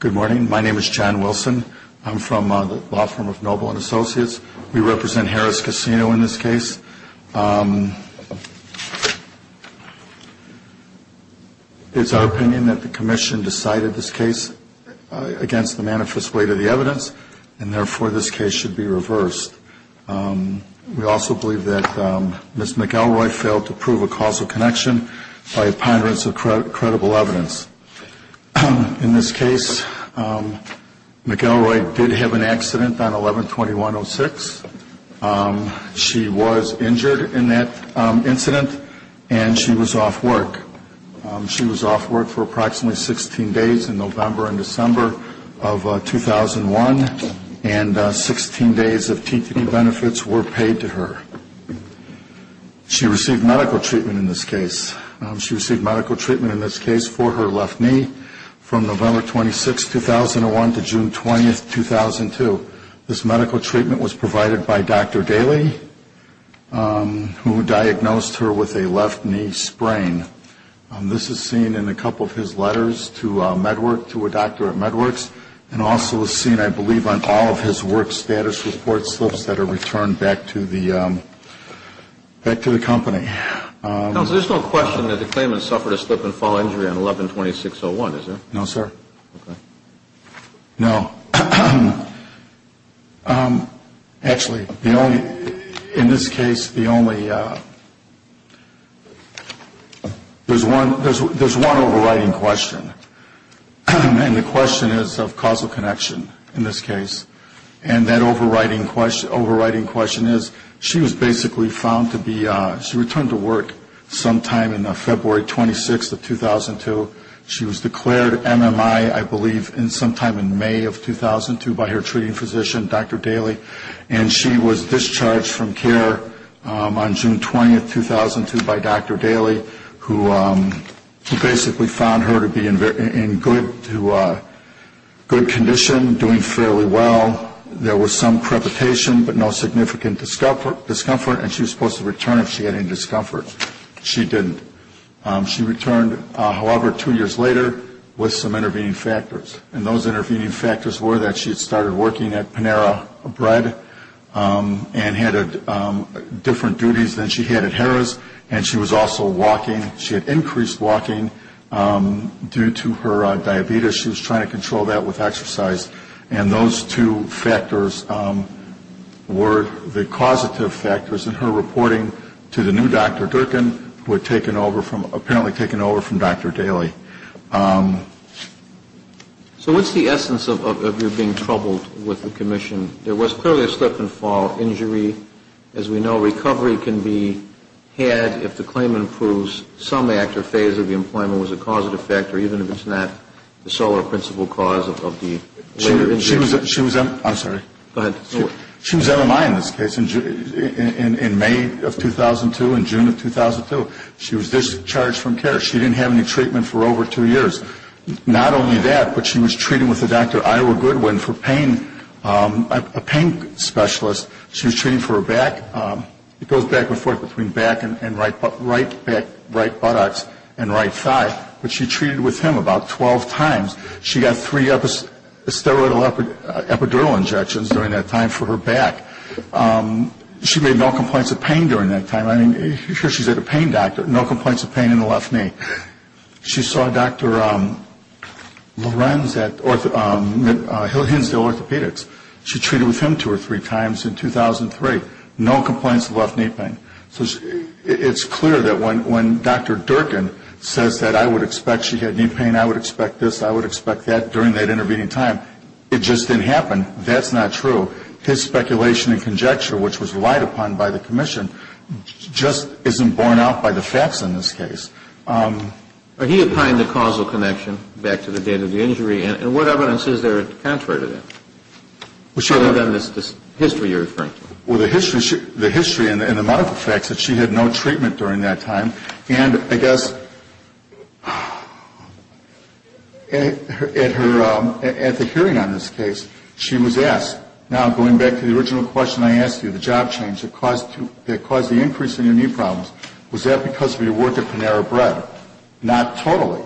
Good morning. My name is John Wilson. I'm from the law firm of Noble & Associates. We represent Harrah's Casino in this case. It's our opinion that the commission decided this case against the manifest weight of the evidence, and therefore this case should be reversed. We also believe that Ms. McElroy failed to prove a causal evidence. In this case, McElroy did have an accident on 11-21-06. She was injured in that incident, and she was off work. She was off work for approximately 16 days in November and December of 2001, and 16 days of TPD benefits were paid to her. She received medical treatment in this case for her left knee from November 26, 2001 to June 20, 2002. This medical treatment was provided by Dr. Daley, who diagnosed her with a left knee sprain. This is seen in a couple of his letters to a doctor at MedWorks, and also is seen, I believe, on all of his work status reports that are returned back to the company. There's no question that the claimant suffered a slip and fall injury on 11-26-01, is there? No, sir. No. Actually, in this case, there's one overriding question, and the question is of causal connection in this case. And that is, she was returned to work sometime in February 26, 2002. She was declared MMI, I believe, sometime in May of 2002 by her treating physician, Dr. Daley. And she was discharged from care on June 20, 2002, by Dr. Daley, who basically found her to be in good condition, doing fairly well. There was some preparation, but no significant discomfort, and she was supposed to return if she had any discomfort. She didn't. She returned, however, two years later with some intervening factors. And those intervening factors were that she had started working at Panera Bread and had different duties than she had at Harrah's, and she was also walking. She had increased walking due to her diabetes. She was trying to control that with exercise. And those two factors were the causative factors in her reporting to the new Dr. Durkin, who had apparently taken over from Dr. Daley. So what's the essence of your being troubled with the commission? There was clearly a slip and fall injury. As we know, recovery can be had if the claimant proves some act or phase of the employment was a causative factor, even if it's not the sole or principal cause of the later injury. She was MMI in this case in May of 2002 and June of 2002. She was discharged from care. She didn't have any treatment for over two years. Not only that, but she was treating with a Dr. Ira Goodwin, a pain specialist. She was treating for her back. It goes back and forth between back and right buttocks and right thigh. But she treated with him about 12 times. She got three steroidal epidural injections during that time for her back. She made no complaints of pain during that time. I mean, here she's at a pain doctor. No complaints of pain in the left knee. She saw Dr. Lorenz at Hinsdale Orthopedics. She treated with him two or three times in 2003. No complaints of left knee pain. So it's clear that when Dr. Durkin says that I would expect she had knee pain, I would expect this, I would expect that during that intervening time. It just didn't happen. That's not true. His speculation and conjecture, which was relied upon by the commission, just isn't borne out by the facts in this case. He opined the causal connection back to the date of the injury. And what evidence is there contrary to that? Well, the history and the medical facts that she had no treatment during that time. And I guess at her first hearing on this case, she was asked, now going back to the original question I asked you, the job change that caused the increase in your knee problems, was that because of your work at Panera Bread? Not totally.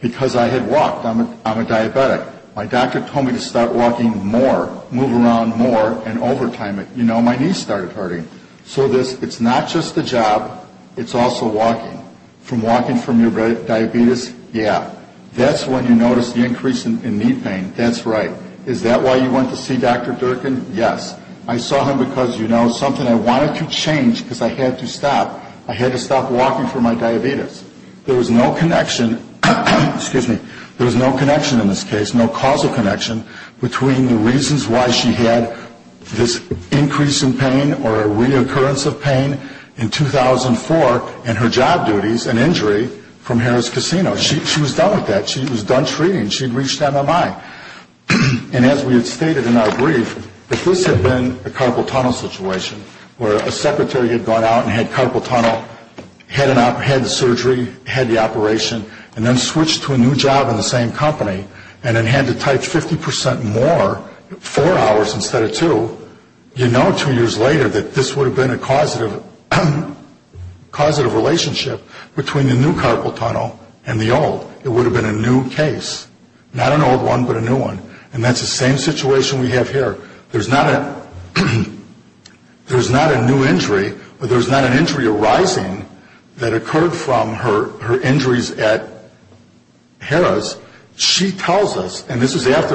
Because I had walked. I'm a diabetic. My doctor told me to start walking more, move around more, and overtime it. You know, my knees started hurting. So it's not just the job, it's also walking. From walking from your diabetes? Yeah. That's when you notice the increase in knee pain. That's right. Is that why you went to see Dr. Durkin? Yes. I saw him because, you know, something I wanted to change because I had to stop. I had to stop walking for my diabetes. There was no connection, excuse me, there was no connection in this case, no causal connection between the reasons why she had this increase in pain or a reoccurrence of pain in 2004 and her job duties and injury from Harrah's Casino. She was done with that. She was done treating. She had reached MMI. And as we had stated in our brief, if this had been a carpal tunnel situation where a secretary had gone out and had carpal tunnel, had the surgery, had the operation, and then switched to a new job in the same company and then had to type 50% more, four hours instead of two, you know two years later that this would have been a causative relationship between the new carpal tunnel and the old one. It would have been a new case. Not an old one, but a new one. And that's the same situation we have here. There's not a new injury or there's not an injury arising that occurred from her injuries at Harrah's. She tells us, and this is after,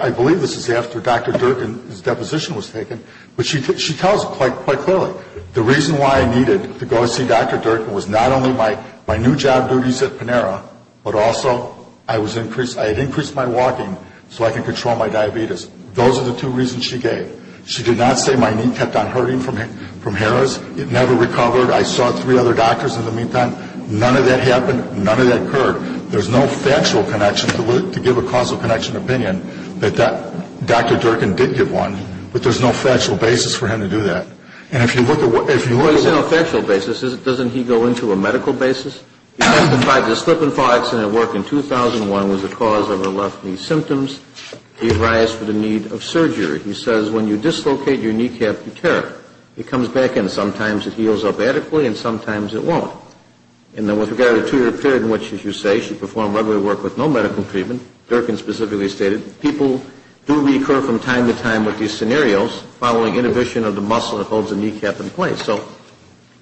I believe this is after Dr. Durkin's deposition was taken, but she tells it quite clearly. The reason why I needed to go see Dr. Durkin was not only my new job duties at Panera, but also I had increased my walking so I could control my diabetes. Those are the two reasons she gave. She did not say my knee kept on hurting from Harrah's. It never recovered. I saw three other doctors in the meantime. None of that happened. None of that occurred. There's no factual connection to give a causal connection opinion that Dr. Durkin did get one, but there's no factual basis for him to do that. And if you look at what he said on a factual basis, doesn't he go into a medical basis? He testified that a slip and fall accident at work in 2001 was the cause of her left knee symptoms. She arised for the need of surgery. He says when you dislocate your kneecap, you tear it. It comes back in. Sometimes it heals up adequately and sometimes it won't. And then with regard to the two-year period in which, as you say, she performed regular work with no medical treatment, Durkin specifically stated, people do recur from time to time with these scenarios, following inhibition of the muscle that holds the kneecap in place. So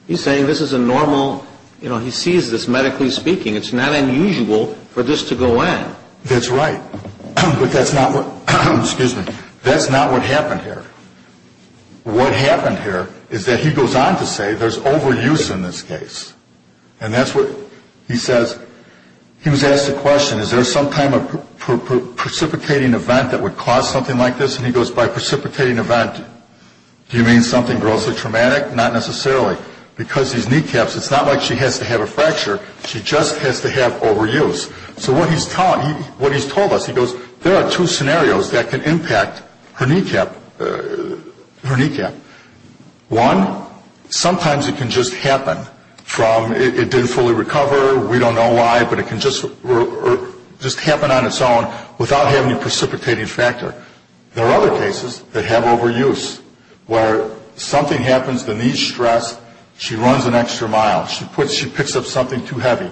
he's saying this is a normal, you know, he sees this medically speaking. It's not unusual for this to go on. That's right. But that's not what happened here. What happened here is that he goes on to say there's overuse in this case. And that's what he says. He was asked the question, is there some kind of precipitating event that would cause something like this? And he goes, by precipitating event, do you mean something grossly traumatic? Not necessarily. Because these kneecaps, it's not like she has to have a fracture. She just has to have overuse. So what he's told us, he goes, there are two scenarios that can impact her kneecap. One, sometimes it can just happen from it didn't fully recover, we don't know why, but it can just happen on its own without having a precipitating factor. There are other cases that have overuse, where something happens, the knee's stressed, she runs an extra mile, she picks up something too heavy,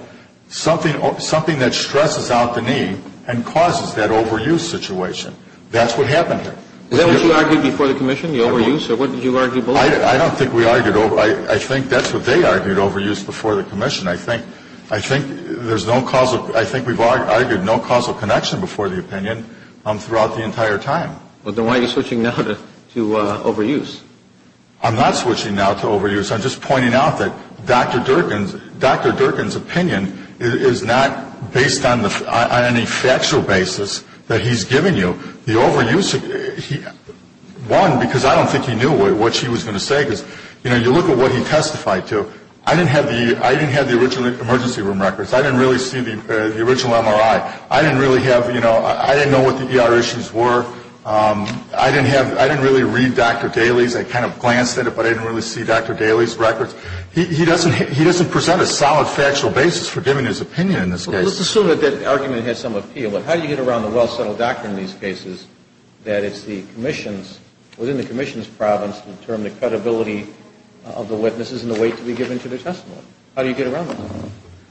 something that stresses out the knee and causes that overuse situation. That's what happened here. Is that what you argued before the commission, the overuse? Or what did you argue before? I don't think we argued overuse. I think that's what they argued, overuse, before the commission. I think we've argued no causal connection before the opinion throughout the entire time. Then why are you switching now to overuse? I'm not switching now to overuse. I'm just pointing out that Dr. Durkin's opinion is not based on any factual basis that he's given you. The overuse, one, because I don't think he knew what she was going to say, because you look at what he testified to. I didn't have the original emergency room records. I didn't really see the original MRI. I didn't really have, you know, I didn't know what the ER issues were. I didn't really read Dr. Daly's. I kind of glanced at it, but I didn't really see Dr. Daly's records. He doesn't present a solid factual basis for giving his opinion in this case. Well, let's assume that that argument has some appeal, but how do you get around the well-settled doctrine in these cases that it's the commissions, within the commission's province, to determine the credibility of the witnesses and the weight to be given to the testimony? How do you get around that?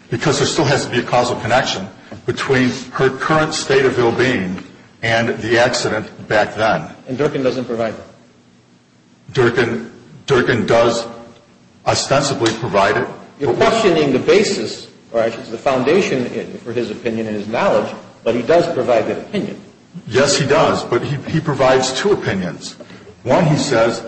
Because there still has to be a causal connection between her current state of ill-being and the accident back then. And Durkin doesn't provide that? Durkin does ostensibly provide it. You're questioning the basis, or I should say the foundation for his opinion and his knowledge, but he does provide that opinion. Yes, he does, but he provides two opinions. One, he says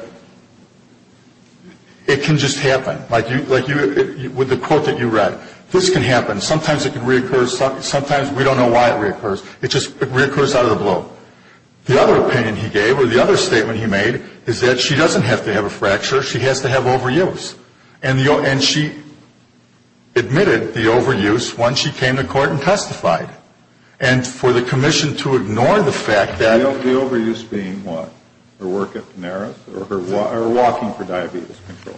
it can just happen. Like with the quote that you read, this can happen. Sometimes it can reoccur. Sometimes we don't know why it reoccurs. It just reoccurs out of the blue. The other opinion he gave, or the other statement he made, is that she doesn't have to have a fracture. She has to have overuse. And she admitted the overuse once she came to court and testified. And for the commission to ignore the fact that... The overuse being what? Her work at Panera's or her walking for diabetes control?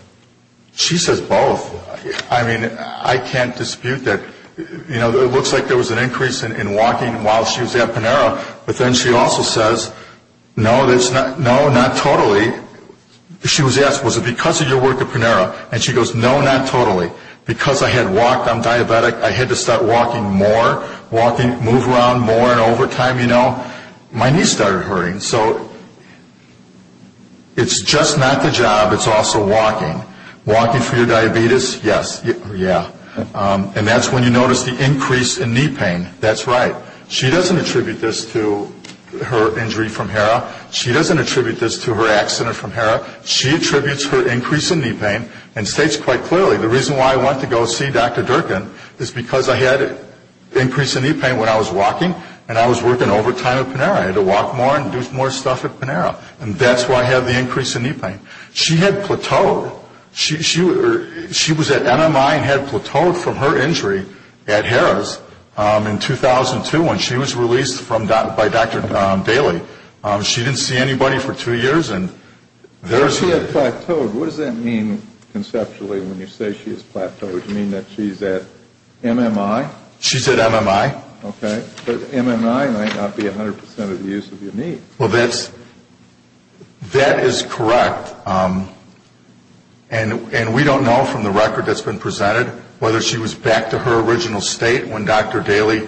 She says both. I mean, I can't dispute that. You know, it looks like there was an increase in walking while she was at Panera's. But then she also says, no, not totally. She was asked, was it because of your work at Panera's? And she goes, no, not totally. Because I had walked, I'm diabetic, I had to start walking more, move around more, and over time, you know, my knees started hurting. So it's just not the job, it's also walking. Walking for your diabetes? Yes. And that's when you notice the increase in knee pain. That's right. She doesn't attribute this to her injury from HERA. She doesn't attribute this to her accident from HERA. She attributes her increase in knee pain and states quite clearly, the reason why I went to go see Dr. Durkin is because I had an increase in knee pain when I was walking and I was working overtime at Panera. I had to walk more and do more stuff at Panera. And that's why I had the increase in knee pain. She had plateaued. She was at MMI and had plateaued from her injury at HERA's in 2002 when she was released by Dr. Daly. She didn't see anybody for two years. When she had plateaued, what does that mean conceptually when you say she has plateaued? Does it mean that she's at MMI? She's at MMI. Okay, but MMI might not be 100% of the use of your knee. Well, that is correct. And we don't know from the record that's been presented whether she was back to her original state when Dr. Daly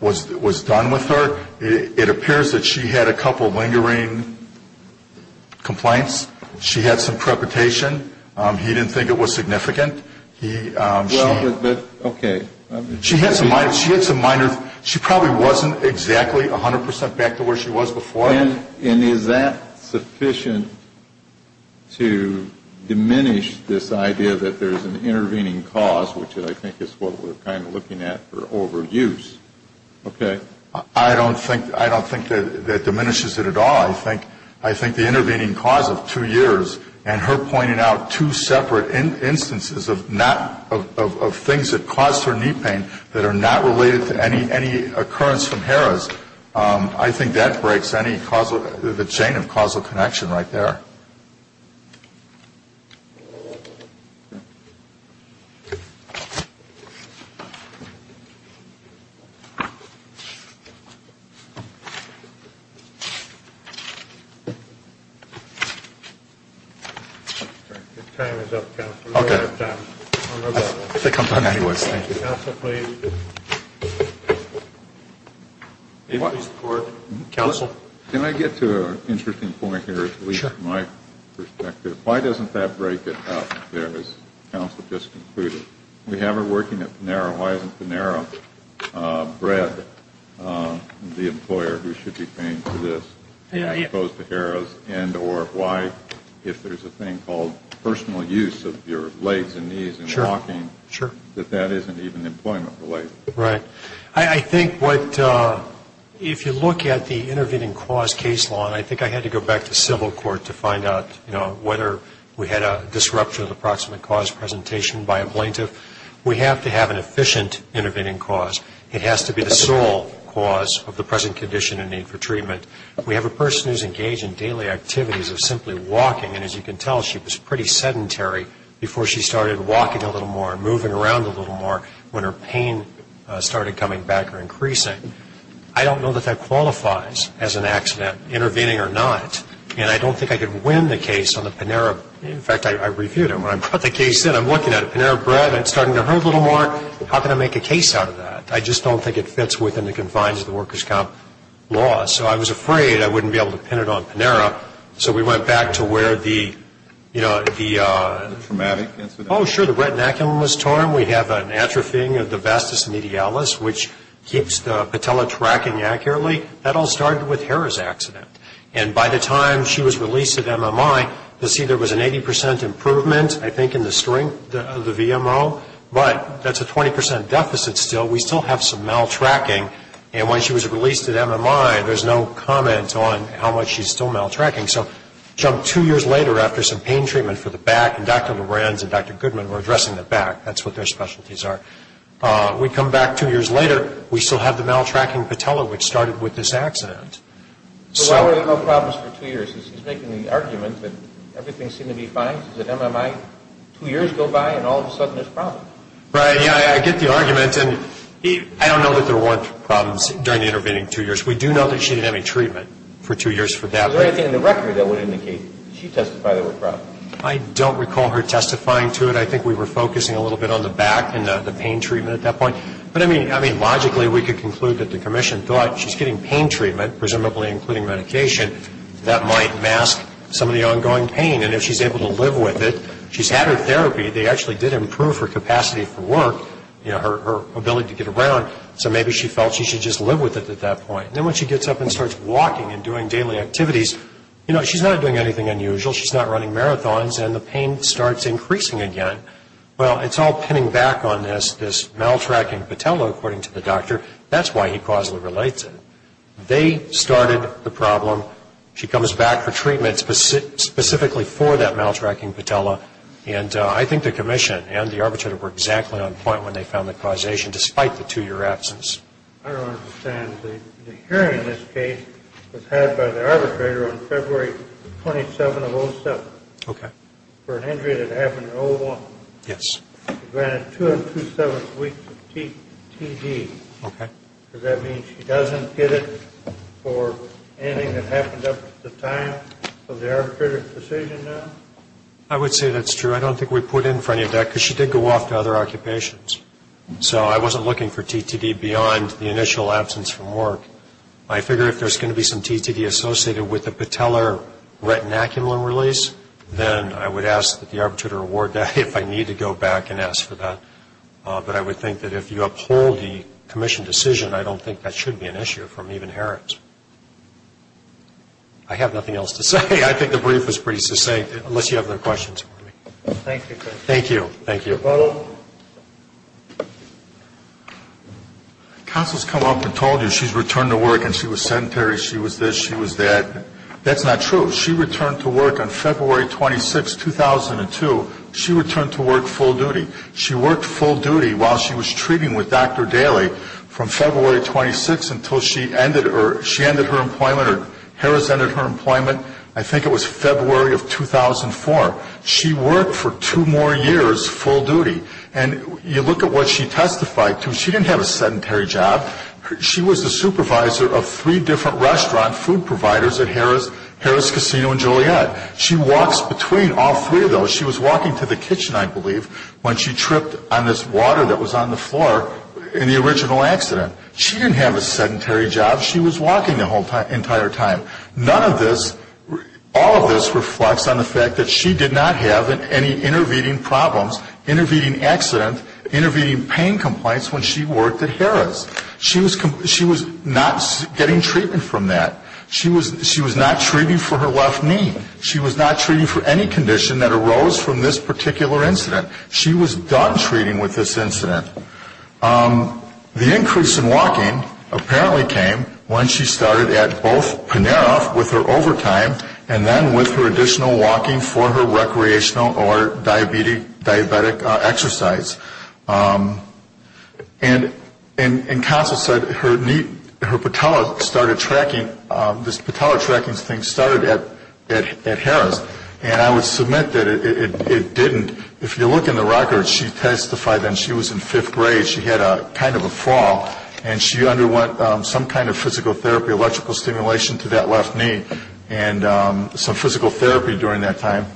was done with her. It appears that she had a couple lingering complaints. She had some trepidation. He didn't think it was significant. She had some minor, she probably wasn't exactly 100% back to where she was before. And is that sufficient to diminish this idea that there's an intervening cause, which I think is what we're kind of looking at for overuse? I don't think that diminishes it at all. I think the intervening cause of two years and her pointing out two separate instances of things that caused her knee pain that are not related to any occurrence from HERA's, I think that breaks the chain of causal connection right there. Thank you. Your time is up, counsel. Counsel, please. Can I get to an interesting point here, at least from my perspective? Why doesn't that break it up there, as counsel just concluded? If we have her working at Panera, why isn't Panera bred the employer who should be paying for this as opposed to HERA's? And or why, if there's a thing called personal use of your legs and knees and walking, that that isn't even employment related? Right. I think what, if you look at the intervening cause case law, and I think I had to go back to civil court to find out, you know, whether we had a disruption of the approximate cause presentation by a plaintiff. We have to have an efficient intervening cause. It has to be the sole cause of the present condition and need for treatment. We have a person who's engaged in daily activities of simply walking, and as you can tell, she was pretty sedentary before she started walking a little more and moving around a little more when her pain started coming back or increasing. I don't know that that qualifies as an accident, intervening or not. And I don't think I could win the case on the Panera. In fact, I reviewed it when I brought the case in. I'm looking at it, Panera Bread, it's starting to hurt a little more. How can I make a case out of that? I just don't think it fits within the confines of the workers' comp law. So I was afraid I wouldn't be able to pin it on Panera, so we went back to where the, you know, the traumatic incident, oh, sure, the retinaculum was torn. By the time we have an atrophying of the vastus medialis, which keeps the patella tracking accurately, that all started with Hera's accident. And by the time she was released at MMI, you'll see there was an 80 percent improvement, I think, in the strength of the VMO, but that's a 20 percent deficit still. We still have some maltracking, and when she was released at MMI, there's no comment on how much she's still We come back two years later, we still have the maltracking patella, which started with this accident. So why were there no problems for two years? She's making the argument that everything seemed to be fine, she's at MMI, two years go by and all of a sudden there's problems. Right, yeah, I get the argument, and I don't know that there weren't problems during the intervening two years. We do know that she didn't have any treatment for two years for that. Was there anything in the record that would indicate she testified there were problems? I don't recall her testifying to it. I think we were focusing a little bit on the back and the pain treatment at that point. But, I mean, logically, we could conclude that the commission thought she's getting pain treatment, presumably including medication, that might mask some of the ongoing pain. And if she's able to live with it, she's had her therapy, they actually did improve her capacity for work, her ability to get around, so maybe she felt she should just live with it at that point. Then when she gets up and starts walking and doing daily activities, you know, she's not doing anything unusual. She's not running marathons, and the pain starts increasing again. Well, it's all pinning back on this, this maltracking patella, according to the doctor. That's why he causally relates it. They started the problem. She comes back for treatment specifically for that maltracking patella. And I think the commission and the arbitrator were exactly on point when they found the causation, despite the two-year absence. I don't understand. I would say that's true. I don't think we put in for any of that, because she did go off to other occupations. So I wasn't looking for TTD beyond the initial absence from work. I figure if there's going to be some TTD associated with the patellar retinaculum release, then I would ask that the arbitrator award that if I need to go back and ask for that. But I would think that if you uphold the commission decision, I don't think that should be an issue from even Herent. I have nothing else to say. I think the brief was pretty succinct, unless you have other questions. Thank you. Counsel has come up and told you she's returned to work and she was sedentary, she was this, she was that. That's not true. She returned to work on February 26, 2002. She returned to work full duty. She worked full duty while she was treating with Dr. Daley from February 26 until she ended her employment, or Harris ended her employment, I think it was February of 2004. She worked for two more years full duty. And you look at what she testified to, she didn't have a sedentary job. She was the supervisor of three different restaurant food providers at Harris Casino and Juliet. She walks between all three of those. She was walking to the kitchen, I believe, when she tripped on this water that was on the floor in the original accident. She didn't have a sedentary job. She was walking the entire time. None of this, all of this reflects on the fact that she did not have any intervening problems, intervening accident, intervening pain complaints when she worked at Harris. She was not getting treatment from that. She was not treating for her left knee. She was not treating for any condition that arose from this particular incident. She was done treating with this incident. The increase in walking apparently came when she started at both Panera with her overtime and then with her additional walking for her recreational or diabetic exercise. And counsel said her patella started tracking, this patella tracking thing started at Harris. And I would submit that it didn't. If you look in the records, she testified that she was in fifth grade. She had kind of a fall and she underwent some kind of physical therapy, electrical stimulation to that left knee and some physical therapy during that time.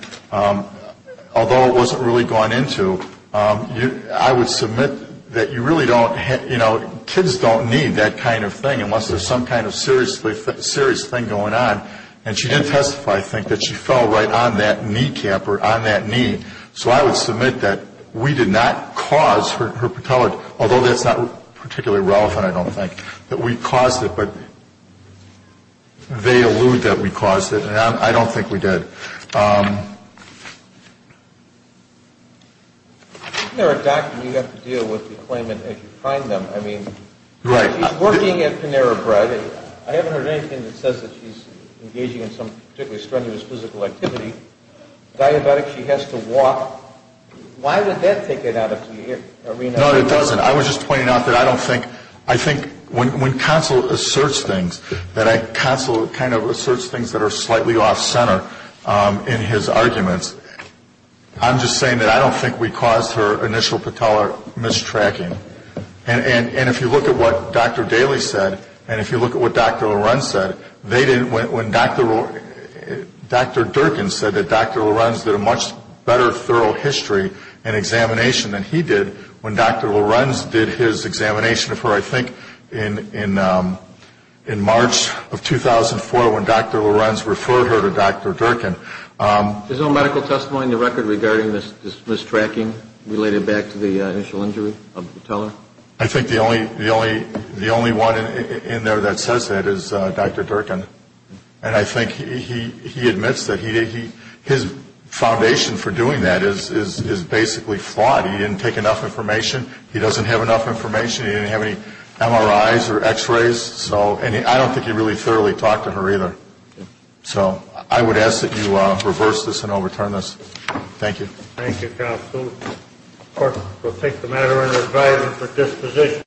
Although it wasn't really gone into, I would submit that you really don't, you know, kids don't need that kind of thing unless there's some kind of serious thing going on. And she did testify, I think, that she fell right on that kneecap or on that knee. So I would submit that we did not cause her patella, although that's not particularly relevant, I don't think, that we caused it, but they allude that we caused it. And I don't think we did. I think there are documents you have to deal with the claimant as you find them. I mean, she's working at Panera Bread. I haven't heard anything that says that she's engaging in some particularly strenuous physical activity. Diabetic, she has to walk. Why would that take it out of the arena? No, it doesn't. I was just pointing out that I don't think, I think when counsel asserts things, that counsel kind of asserts things that are slightly off-center in his arguments, I'm just saying that I don't think we caused her initial patella mistracking. And if you look at what Dr. Daly said and if you look at what Dr. Lorenz said, they didn't, when Dr. Durkin said that Dr. Lorenz did a much better thorough history and examination than he did, when Dr. Lorenz did his examination of her, I think in March of 2004, when Dr. Lorenz referred her to Dr. Durkin. There's no medical testimony in the record regarding this mistracking related back to the initial injury of the patella? I think the only one in there that says that is Dr. Durkin. And I think he admits that his foundation for doing that is basically flawed. He didn't take enough information. He doesn't have enough information. He didn't have any MRIs or x-rays. So I don't think he really thoroughly talked to her either. So I would ask that you reverse this and overturn this. Thank you. Thank you, counsel. Of course, we'll take the matter under advisement for disposition.